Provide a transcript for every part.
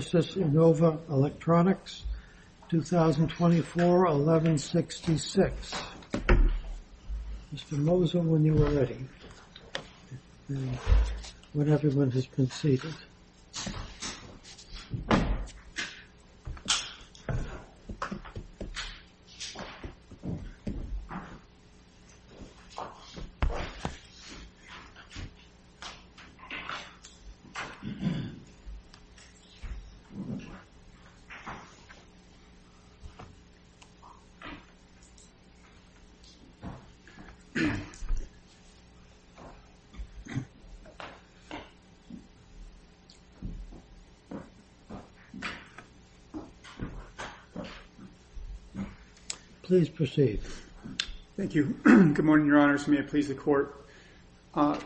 v. Innova Electronics, 2024-11-66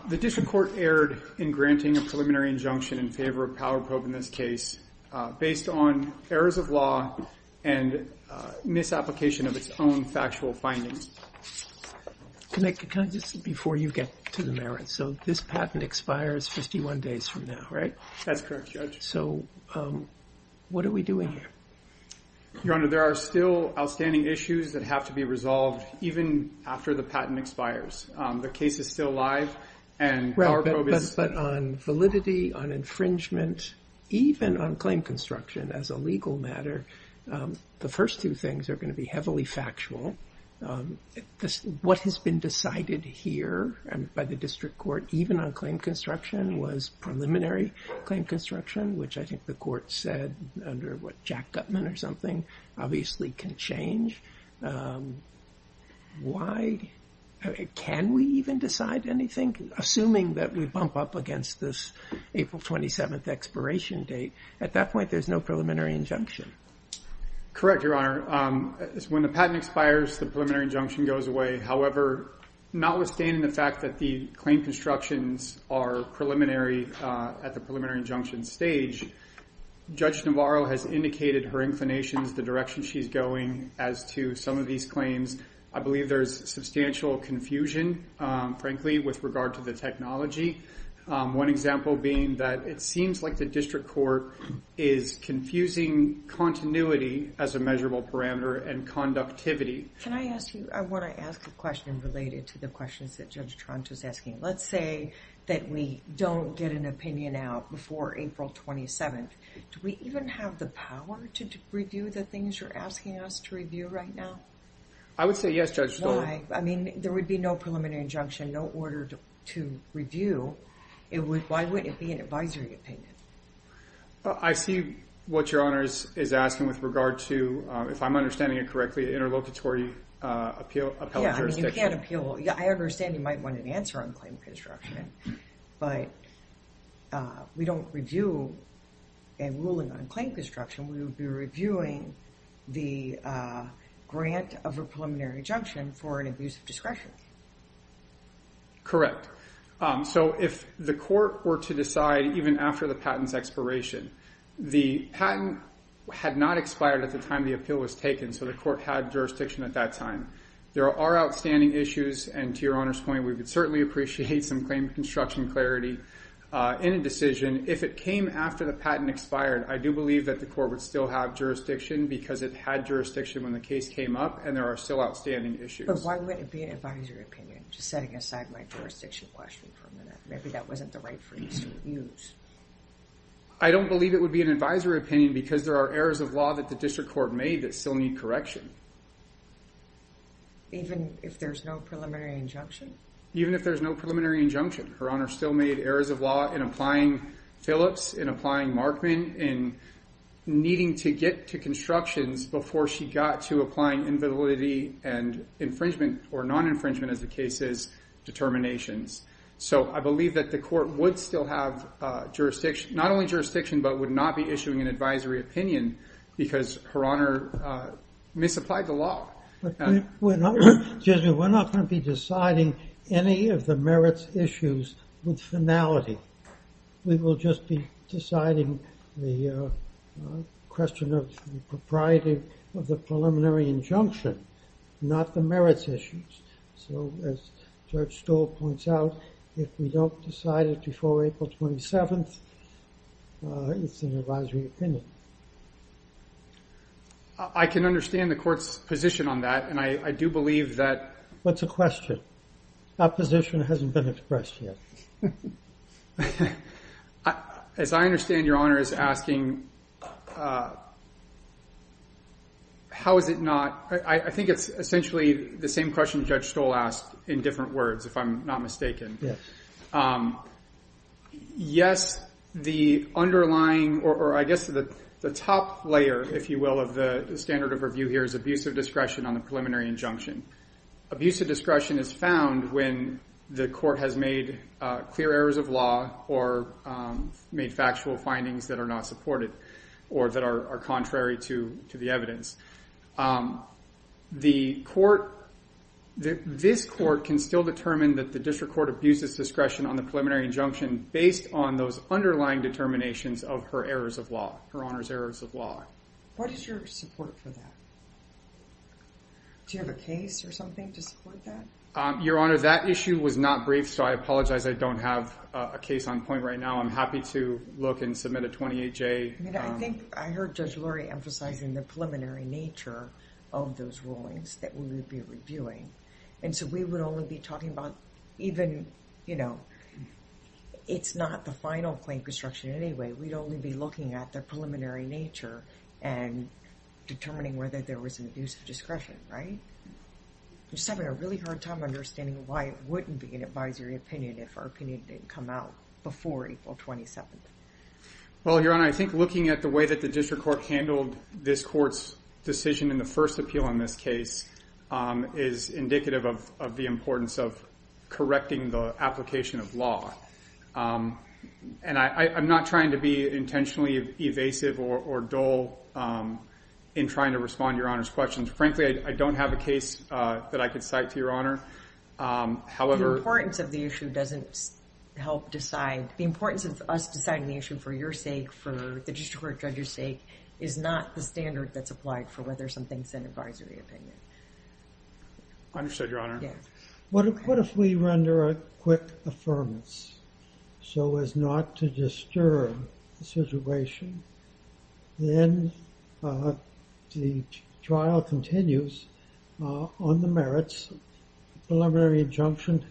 The District Court erred in granting a preliminary injunction in favor of Power Probe in this case based on errors of law and misapplication of its own factual findings. Your Honor, there are still outstanding issues that have to be resolved even after the patent expires. The case is still alive, and Power Probe is... But on validity, on infringement, even on claim construction as a legal matter, the first two things are going to be heavily factual. What has been decided here by the District Court, even on claim construction, was preliminary claim construction, which I think the Court said under what Jack Gutman or something, obviously can change. Can we even decide anything, assuming that we bump up against this April 27th expiration date? At that point, there's no preliminary injunction. Correct, Your Honor. When the patent expires, the preliminary injunction goes away. However, notwithstanding the fact that the claim constructions are at the preliminary injunction stage, Judge Navarro has indicated her inclinations, the direction she's going as to some of these claims. I believe there's substantial confusion, frankly, with regard to the technology. One example being that it seems like the District Court is confusing continuity as a measurable parameter and conductivity. Can I ask you... I want to ask a question related to the questions that Judge Tronto's asking. Let's say that we don't get an opinion out before April 27th. Do we even have the power to review the things you're asking us to review right now? I would say yes, Judge Stoltenberg. Why? There would be no preliminary injunction, no order to review. Why wouldn't it be an advisory opinion? I see what Your Honor is asking with regard to, if I'm understanding it correctly, interlocutory appellate jurisdiction. You can't appeal... I understand you might want an answer on claim construction. But we don't review a ruling on claim construction. We would be reviewing the grant of a preliminary injunction for an abuse of discretion. Correct. If the court were to decide, even after the patent's expiration, the patent had not expired at the time the appeal was taken, so the court had jurisdiction at that time. There are outstanding issues. And to Your Honor's point, we would certainly appreciate some claim construction clarity in a decision. If it came after the patent expired, I do believe that the court would still have jurisdiction because it had jurisdiction when the case came up, and there are still outstanding issues. But why wouldn't it be an advisory opinion? Just setting aside my jurisdiction question for a minute. Maybe that wasn't the right phrase to use. I don't believe it would be an advisory opinion because there are errors of law that the district court made that still need correction. Even if there's no preliminary injunction? Even if there's no preliminary injunction. Her Honor still made errors of law in applying Phillips, in applying Markman, in needing to get to constructions before she got to applying invalidity and infringement, or non-infringement as the case is, determinations. So I believe that the court would still have jurisdiction, not only jurisdiction, but would not be issuing an advisory opinion because Her Honor misapplied the law. Excuse me, we're not going to be deciding any of the merits issues with finality. We will just be deciding the question of the propriety of the preliminary injunction, not the merits issues. So as Judge Stoll points out, if we don't decide it before April 27th, it's an advisory opinion. I can understand the court's position on that. And I do believe that. What's the question? That position hasn't been expressed yet. As I understand, Your Honor is asking, how is it not? I think it's essentially the same question Judge Stoll asked in different words, if I'm not mistaken. Yes, the underlying, or I guess the top layer, if you will, of the standard of review here is abusive discretion on the preliminary injunction. Abusive discretion is found when the court has made clear errors of law or made factual findings that are not supported or that are contrary to the evidence. This court can still determine that the district court abuses discretion on the preliminary injunction based on those underlying determinations of Her Honor's errors of law. What is your support for that? Do you have a case or something to support that? Your Honor, that issue was not briefed, so I apologize. I don't have a case on point right now. I'm happy to look and submit a 28-J. I think I heard Judge Lurie emphasizing the preliminary nature of those rulings that we would be reviewing. And so we would only be talking about even, you know, it's not the final claim construction anyway. We'd only be looking at the preliminary nature and determining whether there was an abusive discretion, right? We're just having a really hard time understanding why it wouldn't be an advisory opinion if our opinion didn't come out before April 27th. Well, Your Honor, I think looking at the way that the district court handled this court's decision in the first appeal in this case is indicative of the importance of correcting the application of law. And I'm not trying to be intentionally evasive or dull in trying to respond to Your Honor's questions. Frankly, I don't have a case that I could cite to Your Honor. However... The importance of the issue doesn't help decide. The importance of us deciding the issue for your sake, for the district court judge's sake, is not the standard that's applied for whether something's an advisory opinion. Understood, Your Honor. What if we render a quick affirmance so as not to disturb the situation? Then the trial continues on the merits, preliminary injunction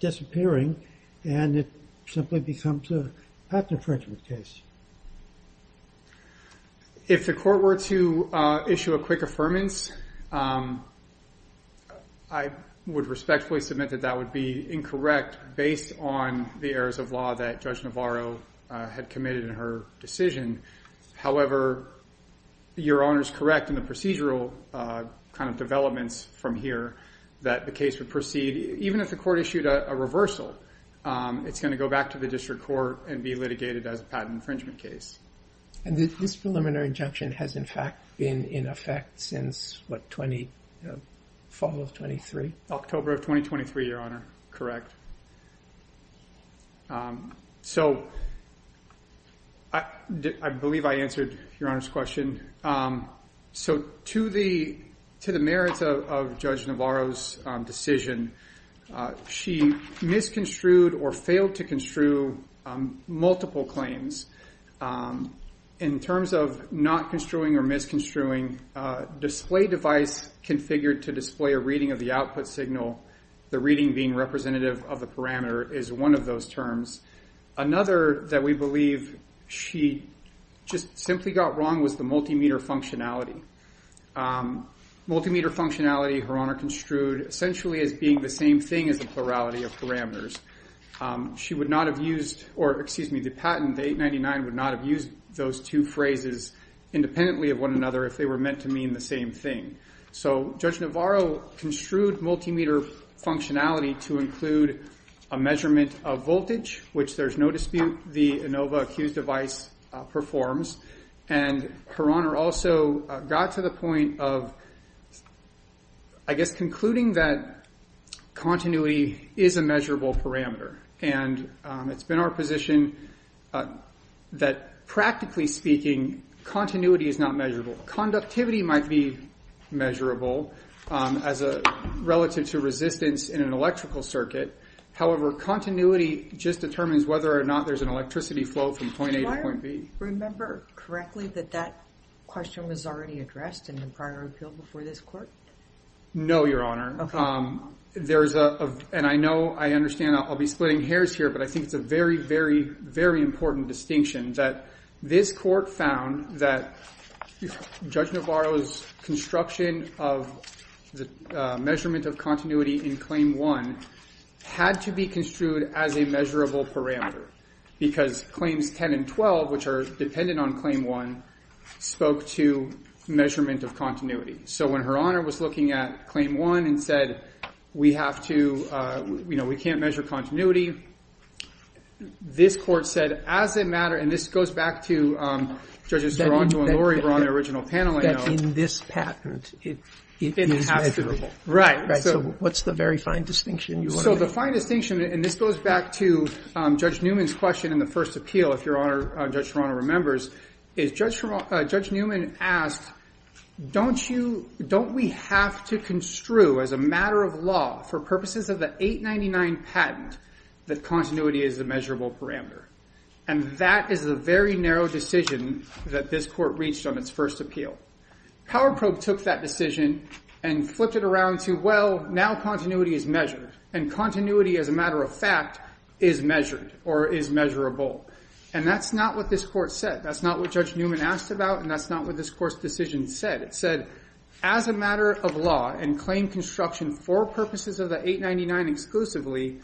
disappearing, and it simply becomes a patent infringement case. If the court were to issue a quick affirmance, I would respectfully submit that that would based on the errors of law that Judge Navarro had committed in her decision. However, Your Honor's correct in the procedural kind of developments from here that the case would proceed. Even if the court issued a reversal, it's going to go back to the district court and be litigated as a patent infringement case. And this preliminary injunction has, in fact, been in effect since, what, fall of 23? October of 2023, Your Honor. So I believe I answered Your Honor's question. So to the merits of Judge Navarro's decision, she misconstrued or failed to construe multiple claims. In terms of not construing or misconstruing, display device configured to display a reading of the output signal, the reading being representative of the parameter is one of those terms. Another that we believe she just simply got wrong was the multimeter functionality. Multimeter functionality, Your Honor construed essentially as being the same thing as the plurality of parameters. She would not have used, or excuse me, the patent, the 899, would not have used those two phrases independently of one another if they were meant to mean the same thing. So Judge Navarro construed multimeter functionality to include a measurement of voltage, which there's no dispute the Inova Accused device performs. And Her Honor also got to the point of, I guess, concluding that continuity is a measurable parameter. And it's been our position that, practically speaking, continuity is not measurable. Conductivity might be measurable relative to resistance in an electrical circuit. However, continuity just determines whether or not there's an electricity flow from point A to point B. Do I remember correctly that that question was already addressed in the prior appeal before this court? No, Your Honor. OK. And I know, I understand, I'll be splitting hairs here, but I think it's a very, very, very important distinction that this court found that Judge Navarro's construction of the measurement of continuity in Claim 1 had to be construed as a measurable parameter because Claims 10 and 12, which are dependent on Claim 1, spoke to measurement of continuity. So when Her Honor was looking at Claim 1 and said, we have to, we can't measure continuity, this court said, as a matter, and this goes back to Judges Taranto and Lurie were on the original panel. That in this patent, it is measurable. Right. Right. So what's the very fine distinction you want to make? So the fine distinction, and this goes back to Judge Newman's question in the first appeal, if Your Honor, Judge Taranto remembers, is Judge Newman asked, don't we have to construe as a matter of law for purposes of the 899 patent that continuity is a measurable parameter? And that is a very narrow decision that this court reached on its first appeal. Power Probe took that decision and flipped it around to, well, now continuity is measured. And continuity, as a matter of fact, is measured or is measurable. And that's not what this court said. That's not what Judge Newman asked about, and that's not what this court's decision said. It said, as a matter of law and claim construction for purposes of the 899 exclusively,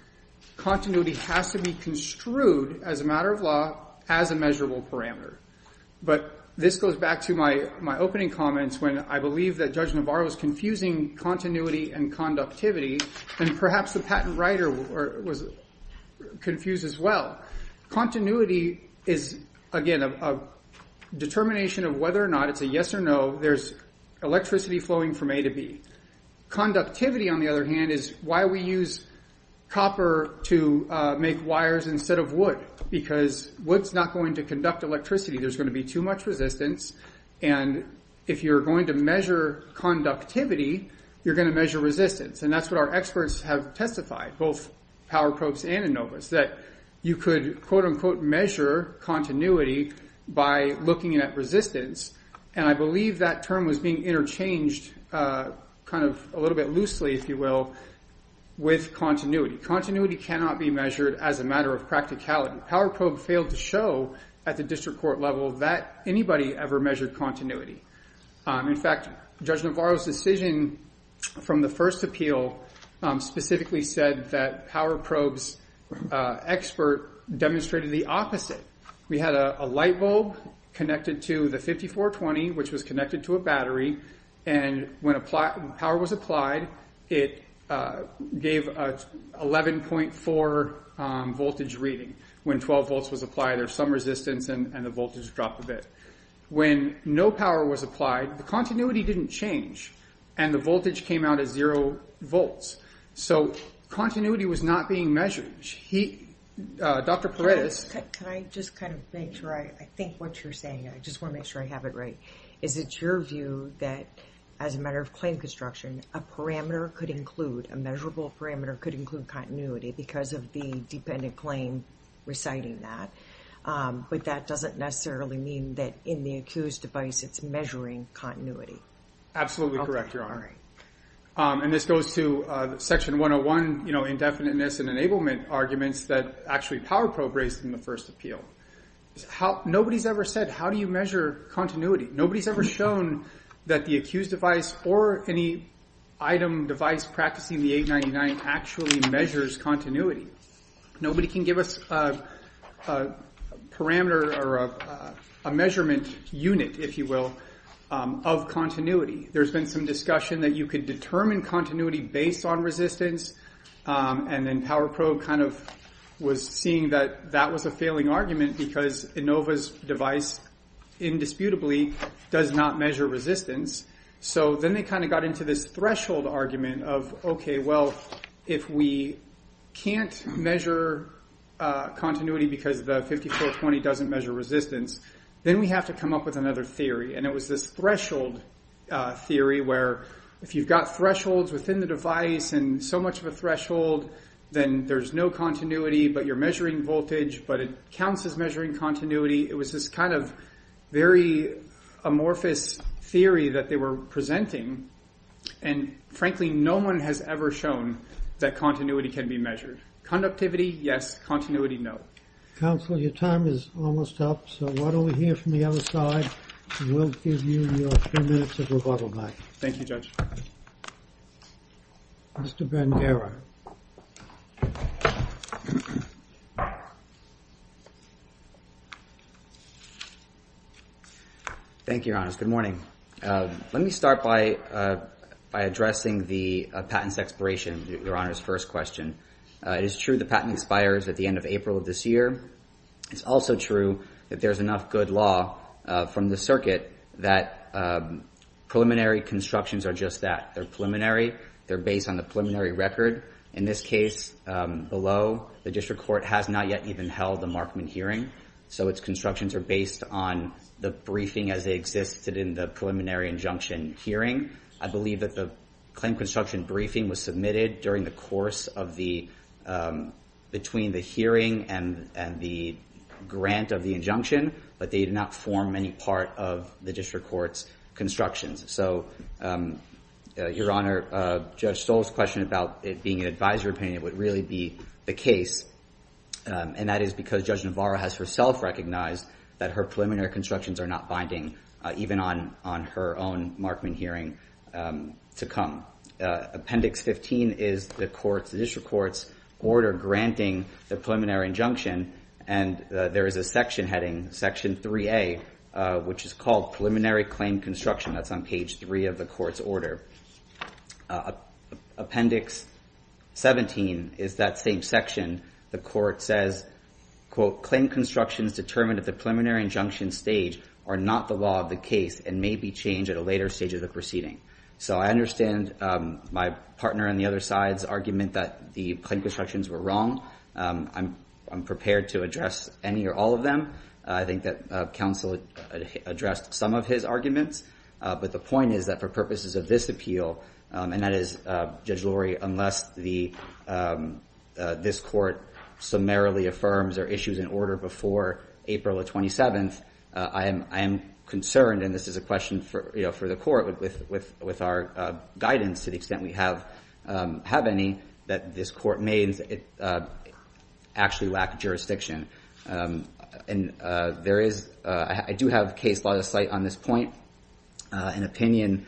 continuity has to be construed as a matter of law as a measurable parameter. But this goes back to my opening comments when I believe that Judge Navarro was confusing continuity and conductivity, and perhaps the patent writer was confused as well. Continuity is, again, a determination of whether or not it's a yes or no. There's electricity flowing from A to B. Conductivity, on the other hand, is why we use copper to make wires instead of wood, because wood's not going to conduct electricity. There's going to be too much resistance. And if you're going to measure conductivity, you're going to measure resistance. And that's what our experts have testified, both Power Probes and ANOVAs, that you could quote, unquote, measure continuity by looking at resistance. And I believe that term was being interchanged kind of a little bit loosely, if you will, with continuity. Continuity cannot be measured as a matter of practicality. Power Probe failed to show at the district court level that anybody ever measured continuity. In fact, Judge Navarro's decision from the first appeal specifically said that Power Probe's expert demonstrated the opposite. We had a light bulb connected to the 5420, which was connected to a battery. And when power was applied, it gave an 11.4 voltage reading. When 12 volts was applied, there was some resistance, and the voltage dropped a bit. When no power was applied, the continuity didn't change. And the voltage came out as zero volts. So continuity was not being measured. Dr. Paredes? Can I just kind of make sure I think what you're saying? I just want to make sure I have it right. Is it your view that as a matter of claim construction, a parameter could include, a measurable parameter could include continuity because of the dependent claim reciting that? But that doesn't necessarily mean that in the accused device it's measuring continuity. Absolutely correct, Your Honor. And this goes to Section 101, indefiniteness and enablement arguments that actually Power Probe raised in the first appeal. Nobody's ever said, how do you measure continuity? Nobody's ever shown that the accused device or any item device practicing the 899 actually measures continuity. Nobody can give us a parameter or a measurement unit, if you will, of continuity. There's been some discussion that you could determine continuity based on resistance. And then Power Probe kind of was seeing that that was a failing argument because Inova's device indisputably does not measure resistance. So then they kind of got into this threshold argument of, OK, well, if we can't measure continuity because the 5420 doesn't measure resistance, then we have to come up with another theory. And it was this threshold theory where if you've got thresholds within the device and so much of a threshold, then there's no continuity, but you're measuring voltage, but it counts as measuring continuity. It was this kind of very amorphous theory that they were presenting. And frankly, no one has ever shown that continuity can be measured. Conductivity, yes. Continuity, no. Counselor, your time is almost up. So why don't we hear from the other side? We'll give you your few minutes of rebuttal back. Thank you, Judge. Mr. Bandera. Thank you, Your Honor. Good morning. Let me start by addressing the patent's expiration, Your Honor's first question. It is true the patent expires at the end of April of this year. It's also true that there's enough good law from the circuit that preliminary constructions are just that. They're preliminary. They're based on the preliminary record. In this case below, the district court has not yet even held the Markman hearing. So its constructions are based on the briefing as they existed in the preliminary injunction hearing. I believe that the claim construction briefing was submitted between the hearing and the grant of the injunction, but they did not form any part of the district court's constructions. So, Your Honor, Judge Stoll's question about it being an advisory opinion would really be the case, and that is because Judge Navarro has herself recognized that her preliminary constructions are not binding, even on her own Markman hearing to come. Appendix 15 is the district court's order granting the preliminary injunction, and there is a section heading, Section 3A, which is called preliminary claim construction. That's on page 3 of the court's order. Appendix 17 is that same section. The court says, quote, Claim constructions determined at the preliminary injunction stage are not the law of the case and may be changed at a later stage of the proceeding. So I understand my partner on the other side's argument that the claim constructions were wrong. I'm prepared to address any or all of them. I think that counsel addressed some of his arguments, but the point is that for purposes of this appeal, and that is, Judge Lurie, unless this court summarily affirms their issues in order before April the 27th, I am concerned, and this is a question for the court with our guidance to the extent we have any, that this court may actually lack jurisdiction. And there is, I do have case law to cite on this point. An opinion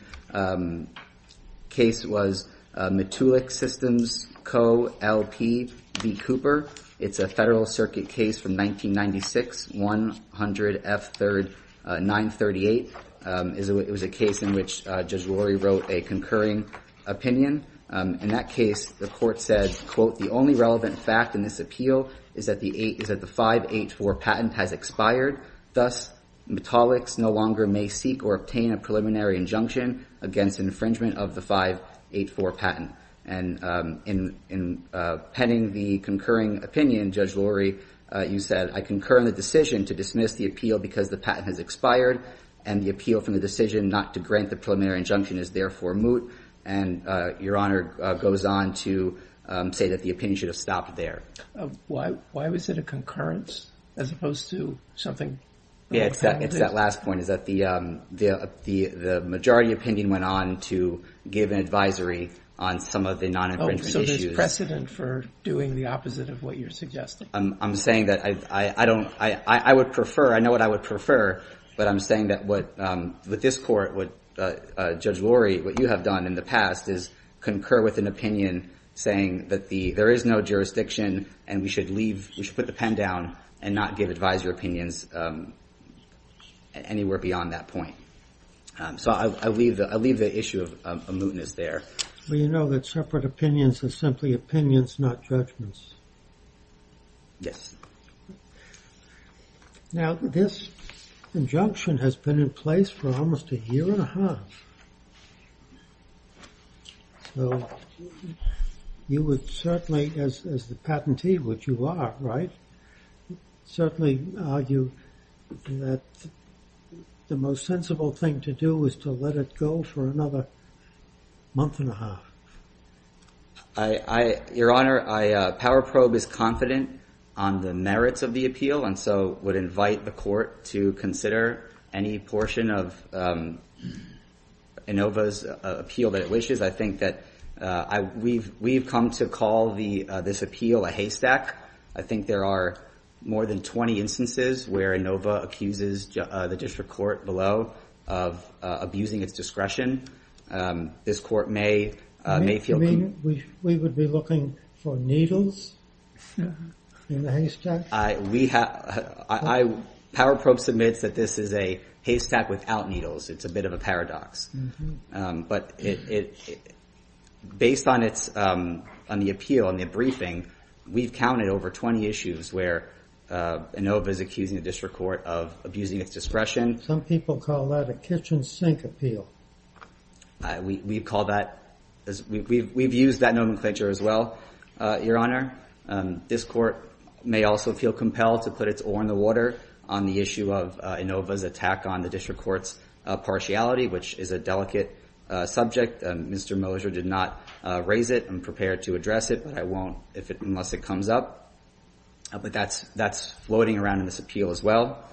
case was Matulik Systems Co. L.P. v. Cooper. It's a Federal Circuit case from 1996, 100 F. 3rd, 938. It was a case in which Judge Lurie wrote a concurring opinion. In that case, the court said, quote, the only relevant fact in this appeal is that the 584 patent has expired. Thus, Matulik no longer may seek or obtain a preliminary injunction against infringement of the 584 patent. And in penning the concurring opinion, Judge Lurie, you said, I concur in the decision to dismiss the appeal because the patent has expired and the appeal from the decision not to grant the preliminary injunction is therefore And Your Honor goes on to say that the opinion should have stopped there. Why was it a concurrence as opposed to something? Yeah, it's that last point, is that the majority opinion went on to give an advisory on some of the non-infringement issues. So there's precedent for doing the opposite of what you're suggesting? I'm saying that I don't, I would prefer, I know what I would prefer, but I'm saying that with this court, Judge Lurie, what you have done in the past is concur with an opinion saying that there is no jurisdiction and we should leave, we should put the pen down and not give advisory opinions anywhere beyond that point. So I leave the issue of a mootness there. Well, you know that separate opinions are simply opinions, not judgments. Yes. Now this injunction has been in place for almost a year and a half. So you would certainly, as the patentee, which you are, right? Certainly argue that the most sensible thing to do is to let it go for another month and a half. Your Honor, Power Probe is confident on the merits of the appeal and so would invite the court to consider any portion of Inova's appeal that it wishes. I think that we've come to call this appeal a haystack. I think there are more than 20 instances where Inova accuses the district court below of abusing its discretion. This court may feel... You mean we would be looking for needles in the haystack? Power Probe submits that this is a haystack without needles. It's a bit of a paradox. But based on the appeal and the briefing, we've counted over 20 issues where Inova is accusing the district court of abusing its discretion. Some people call that a kitchen sink appeal. We've used that nomenclature as well, Your Honor. This court may also feel compelled to put its oar in the water on the issue of Inova's attack on the district court's partiality, which is a delicate subject. Mr. Moser did not raise it and prepare to address it, but I won't unless it comes up. But that's floating around in this appeal as well.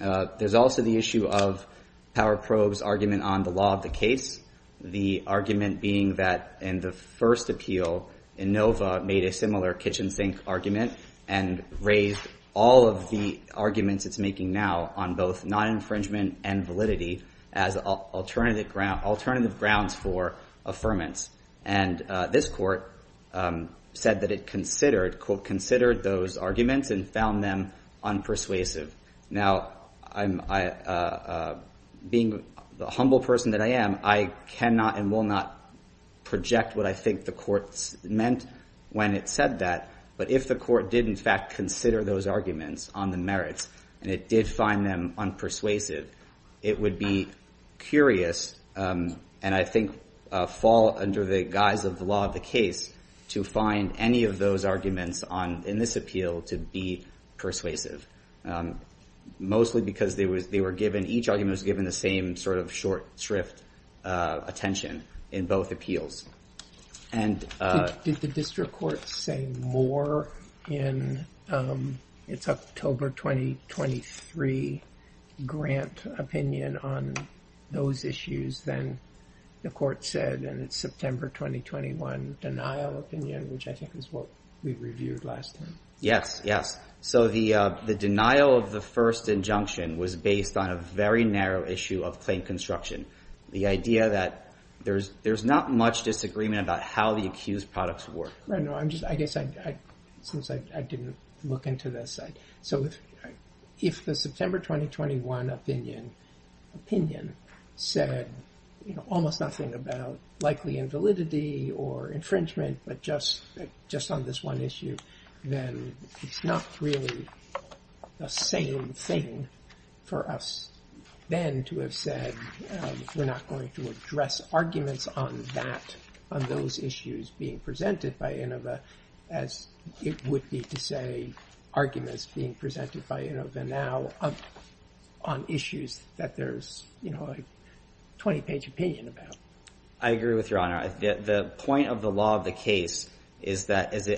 There's also the issue of Power Probe's argument on the law of the case, the argument being that in the first appeal, Inova made a similar kitchen sink argument and raised all of the arguments it's making now on both non-infringement and validity as alternative grounds for affirmance. And this court said that it considered, quote, considered those arguments and found them unpersuasive. Now, being the humble person that I am, I cannot and will not project what I think the court meant when it said that. But if the court did in fact consider those arguments on the merits and it did find them unpersuasive, it would be curious and I think fall under the guise of the law of the case to find any of those arguments in this appeal to be persuasive, mostly because each argument was given the same sort of short shrift attention in both appeals. Did the district court say more in its October 2023 grant opinion on those issues than the court said in September 2021 denial opinion, which I think is what we reviewed last time? Yes, yes. So the denial of the first injunction was based on a very narrow issue of claim construction. The idea that there's not much disagreement about how the accused products work. Right, I guess since I didn't look into this. So if the September 2021 opinion said almost nothing about likely invalidity or infringement, but just on this one issue, then it's not really the same thing for us then to have said we're not going to address arguments on that, on those issues being presented by INOVA as it would be to say arguments being presented by INOVA now on issues that there's a 20-page opinion about. I agree with Your Honor. The point of the law of the case is that as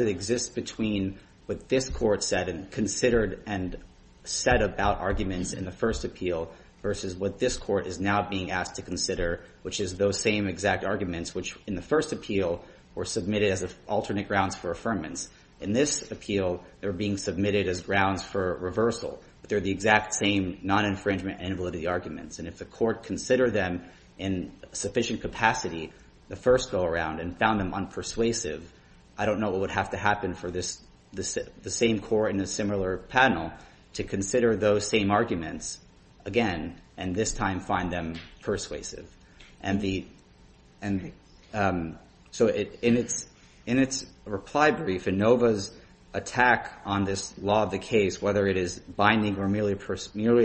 it exists between what this court said and considered and said about arguments in the first appeal versus what this court is now being asked to consider, which is those same exact arguments, which in the first appeal were submitted as alternate grounds for affirmance. In this appeal, they're being submitted as grounds for reversal. They're the exact same non-infringement and validity arguments. And if the court considered them in sufficient capacity the first go-around and found them unpersuasive, I don't know what would have to happen for the same court in a similar panel to consider those same arguments again and this time find them persuasive. In its reply brief, INOVA's attack on this law of the case, whether it is binding or merely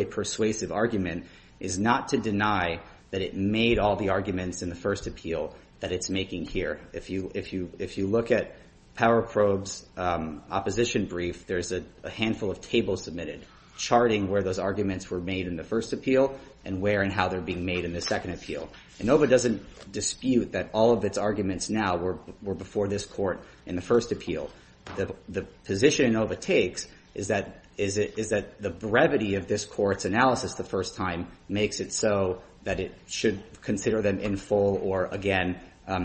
a persuasive argument, is not to deny that it made all the arguments in the first appeal that it's making here. If you look at Power Probe's opposition brief, there's a handful of tables submitted charting where those arguments were made in the first appeal and where and how they're being made in the second appeal. INOVA doesn't dispute that all of its arguments now were before this court in the first appeal. The position INOVA takes is that the brevity of this court's analysis the first time makes it so that it should consider them in full or again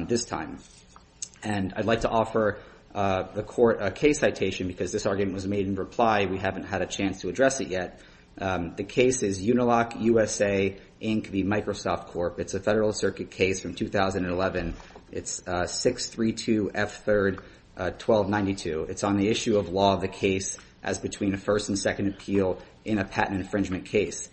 this time. And I'd like to offer the court a case citation because this argument was made in reply. We haven't had a chance to address it yet. The case is Uniloc USA, Inc. v. Microsoft Corp. It's a Federal Circuit case from 2011. It's 632 F. 3rd 1292. It's on the issue of law of the case as between a first and second appeal in a patent infringement case.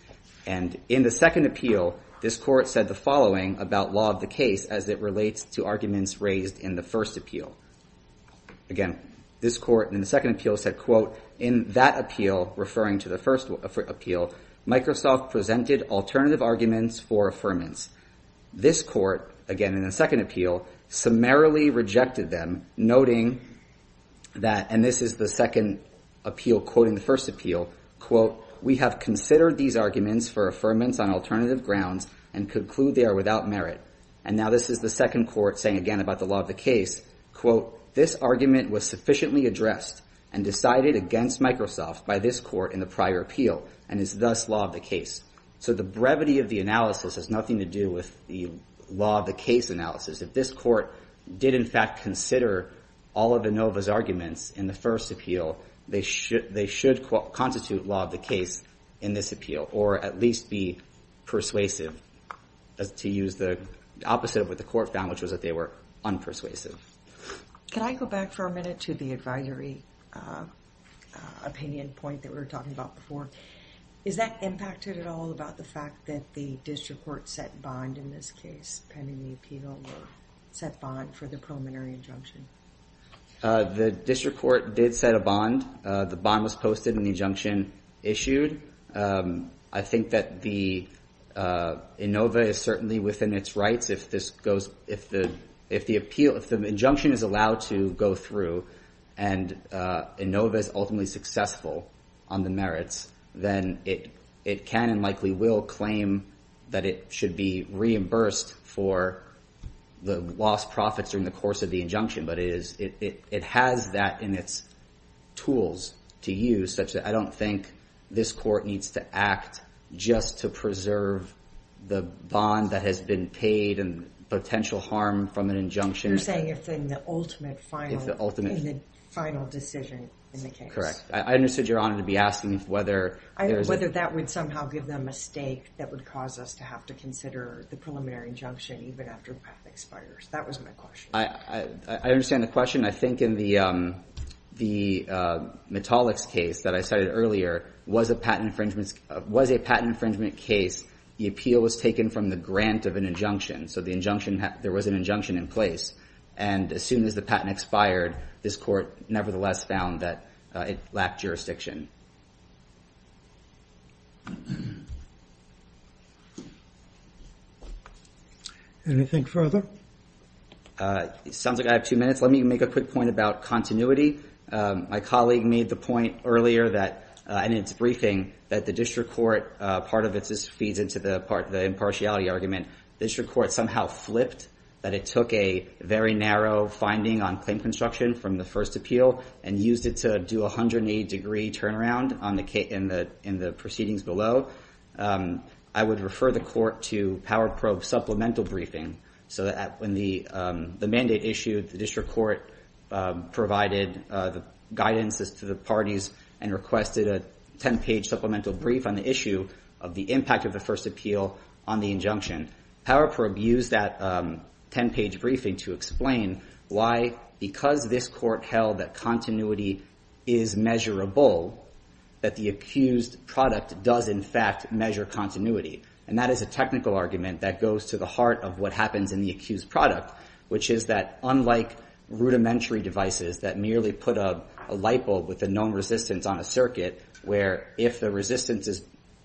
And in the second appeal, this court said the following about law of the case as it relates to arguments raised in the first appeal. Again, this court in the second appeal said, In that appeal, referring to the first appeal, Microsoft presented alternative arguments for affirmance. This court, again in the second appeal, summarily rejected them, noting that, and this is the second appeal quoting the first appeal, And now this is the second court saying again about the law of the case, by this court in the prior appeal and is thus law of the case. So the brevity of the analysis has nothing to do with the law of the case analysis. If this court did in fact consider all of Inova's arguments in the first appeal, they should constitute law of the case in this appeal or at least be persuasive to use the opposite of what the court found, which was that they were unpersuasive. Can I go back for a minute to the advisory opinion point that we were talking about before? Is that impacted at all about the fact that the district court set bond in this case, pending the appeal, or set bond for the preliminary injunction? The district court did set a bond. The bond was posted and the injunction issued. I think that the Inova is certainly within its rights if the injunction is allowed to go through and Inova is ultimately successful on the merits, then it can and likely will claim that it should be reimbursed for the lost profits during the course of the injunction. But it has that in its tools to use, such that I don't think this court needs to act just to preserve the bond that has been paid and potential harm from an injunction. You're saying it's in the ultimate final decision in the case. Correct. I understood Your Honor to be asking whether there's... Whether that would somehow give them a stake that would cause us to have to consider the preliminary injunction even after the patent expires. That was my question. I understand the question. I think in the Metallics case that I cited earlier, was a patent infringement case, the appeal was taken from the grant of an injunction, so there was an injunction in place. And as soon as the patent expired, this court nevertheless found that it lacked jurisdiction. Anything further? It sounds like I have two minutes. Let me make a quick point about continuity. My colleague made the point earlier in its briefing that the district court, part of it just feeds into the impartiality argument. The district court somehow flipped that it took a very narrow finding on claim construction from the first appeal and used it to do a 180-degree turnaround in the proceedings below. I would refer the court to Power Probe Supplemental Briefing, so that when the mandate issued, the district court provided the guidance to the parties and requested a 10-page supplemental brief on the issue of the impact of the first appeal on the injunction. Power Probe used that 10-page briefing to explain why, because this court held that continuity is measurable, that the accused product does in fact measure continuity. And that is a technical argument that goes to the heart of what happens in the accused product, which is that unlike rudimentary devices that merely put a light bulb with a known resistance on a circuit, where if the resistance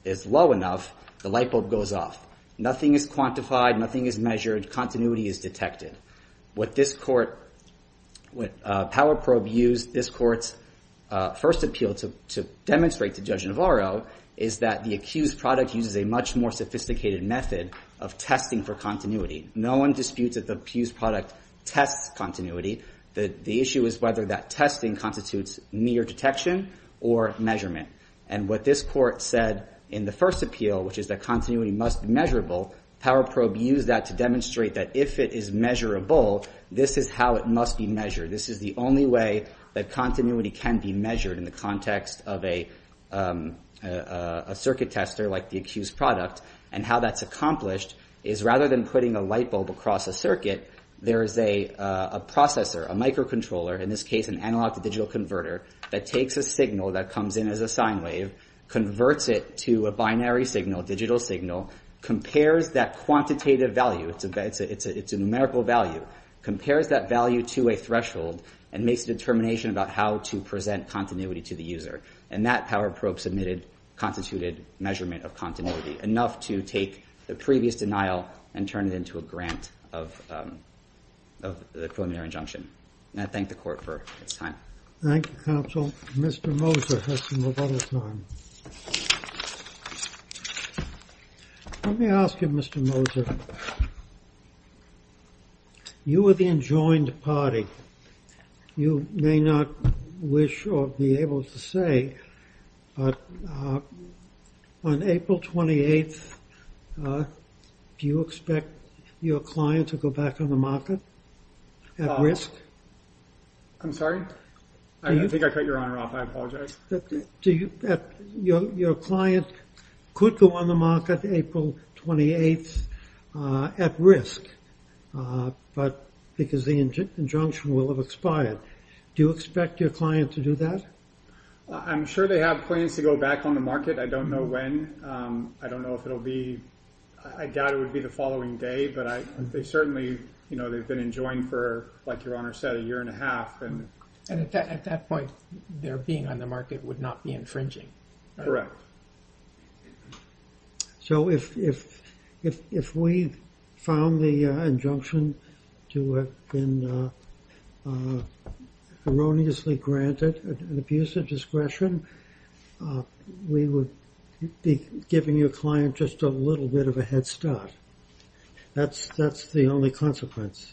is low enough, the light bulb goes off. Nothing is quantified. Nothing is measured. Continuity is detected. What this court, what Power Probe used, this court's first appeal to demonstrate to Judge Navarro is that the accused product uses a much more sophisticated method of testing for continuity. No one disputes that the accused product tests continuity. The issue is whether that testing constitutes mere detection or measurement. And what this court said in the first appeal, which is that continuity must be measurable, Power Probe used that to demonstrate that if it is measurable, this is how it must be measured. This is the only way that continuity can be measured in the context of a circuit tester like the accused product. And how that's accomplished is rather than putting a light bulb across a circuit, there is a processor, a microcontroller, in this case an analog-to-digital converter, that takes a signal that comes in as a sine wave, converts it to a binary signal, a digital signal, compares that quantitative value, it's a numerical value, compares that value to a threshold, and makes a determination about how to present continuity to the user. And that Power Probe submitted constituted measurement of continuity, enough to take the previous denial and turn it into a grant of the preliminary injunction. And I thank the court for its time. Thank you, counsel. Mr. Moser has some other time. Let me ask you, Mr. Moser, you were the enjoined party. You may not wish or be able to say, but on April 28th, do you expect your client to go back on the market at risk? I'm sorry? I think I cut your honor off. I apologize. Your client could go on the market April 28th at risk, but because the injunction will have expired. Do you expect your client to do that? I'm sure they have plans to go back on the market. I don't know when. I don't know if it'll be, I doubt it would be the following day, but they certainly, you know, they've been enjoined for, like your honor said, a year and a half. And at that point, their being on the market would not be infringing. Correct. So if we found the injunction to have been erroneously granted an abuse of discretion, we would be giving your client just a little bit of a head start. That's the only consequence.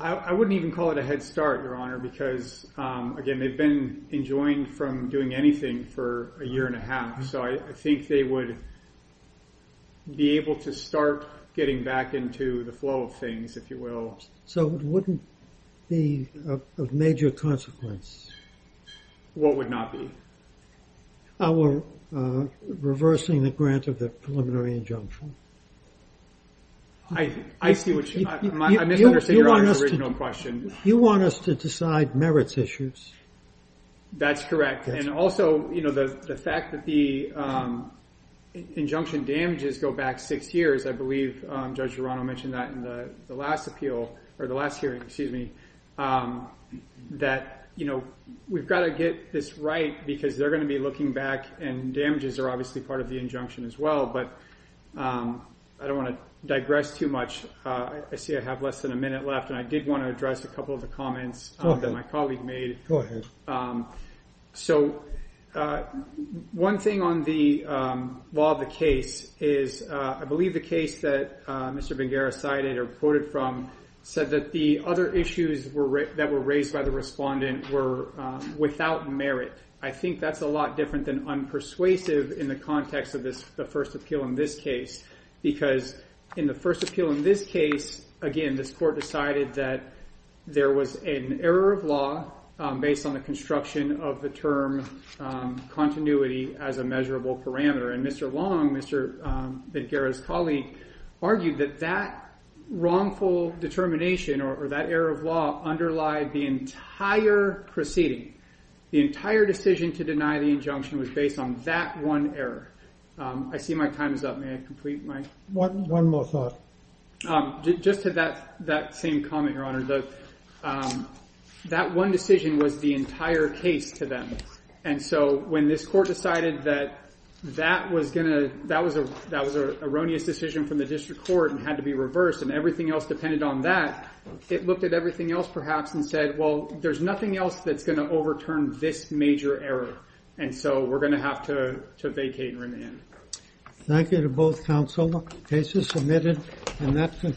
I wouldn't even call it a head start, your honor, because, again, they've been enjoined from doing anything for a year and a half, so I think they would be able to start getting back into the flow of things, if you will. So it wouldn't be of major consequence. What would not be? Our reversing the grant of the preliminary injunction. I see what you mean. I misunderstand your original question. You want us to decide merits issues? That's correct. And also, you know, the fact that the injunction damages go back six years, I believe Judge Durano mentioned that in the last appeal, or the last hearing, excuse me, that, you know, we've got to get this right because they're going to be looking back, and damages are obviously part of the injunction as well, but I don't want to digress too much. I see I have less than a minute left, and I did want to address a couple of the comments that my colleague made. So one thing on the law of the case is I believe the case that Mr. Benguera cited or quoted from said that the other issues that were raised by the respondent were without merit. I think that's a lot different than unpersuasive in the context of the first appeal in this case, because in the first appeal in this case, again, this court decided that there was an error of law based on the construction of the term continuity as a measurable parameter, and Mr. Long, Mr. Benguera's colleague, argued that that wrongful determination or that error of law underlied the entire proceeding. The entire decision to deny the injunction was based on that one error. I see my time is up. May I complete my... One more thought. Just to that same comment, Your Honor, that one decision was the entire case to them, and so when this court decided that that was an erroneous decision from the district court and had to be reversed and everything else depended on that, it looked at everything else perhaps and said, well, there's nothing else that's going to overturn this major error, and so we're going to have to vacate remand. Thank you to both counsel. Case is submitted, and that concludes...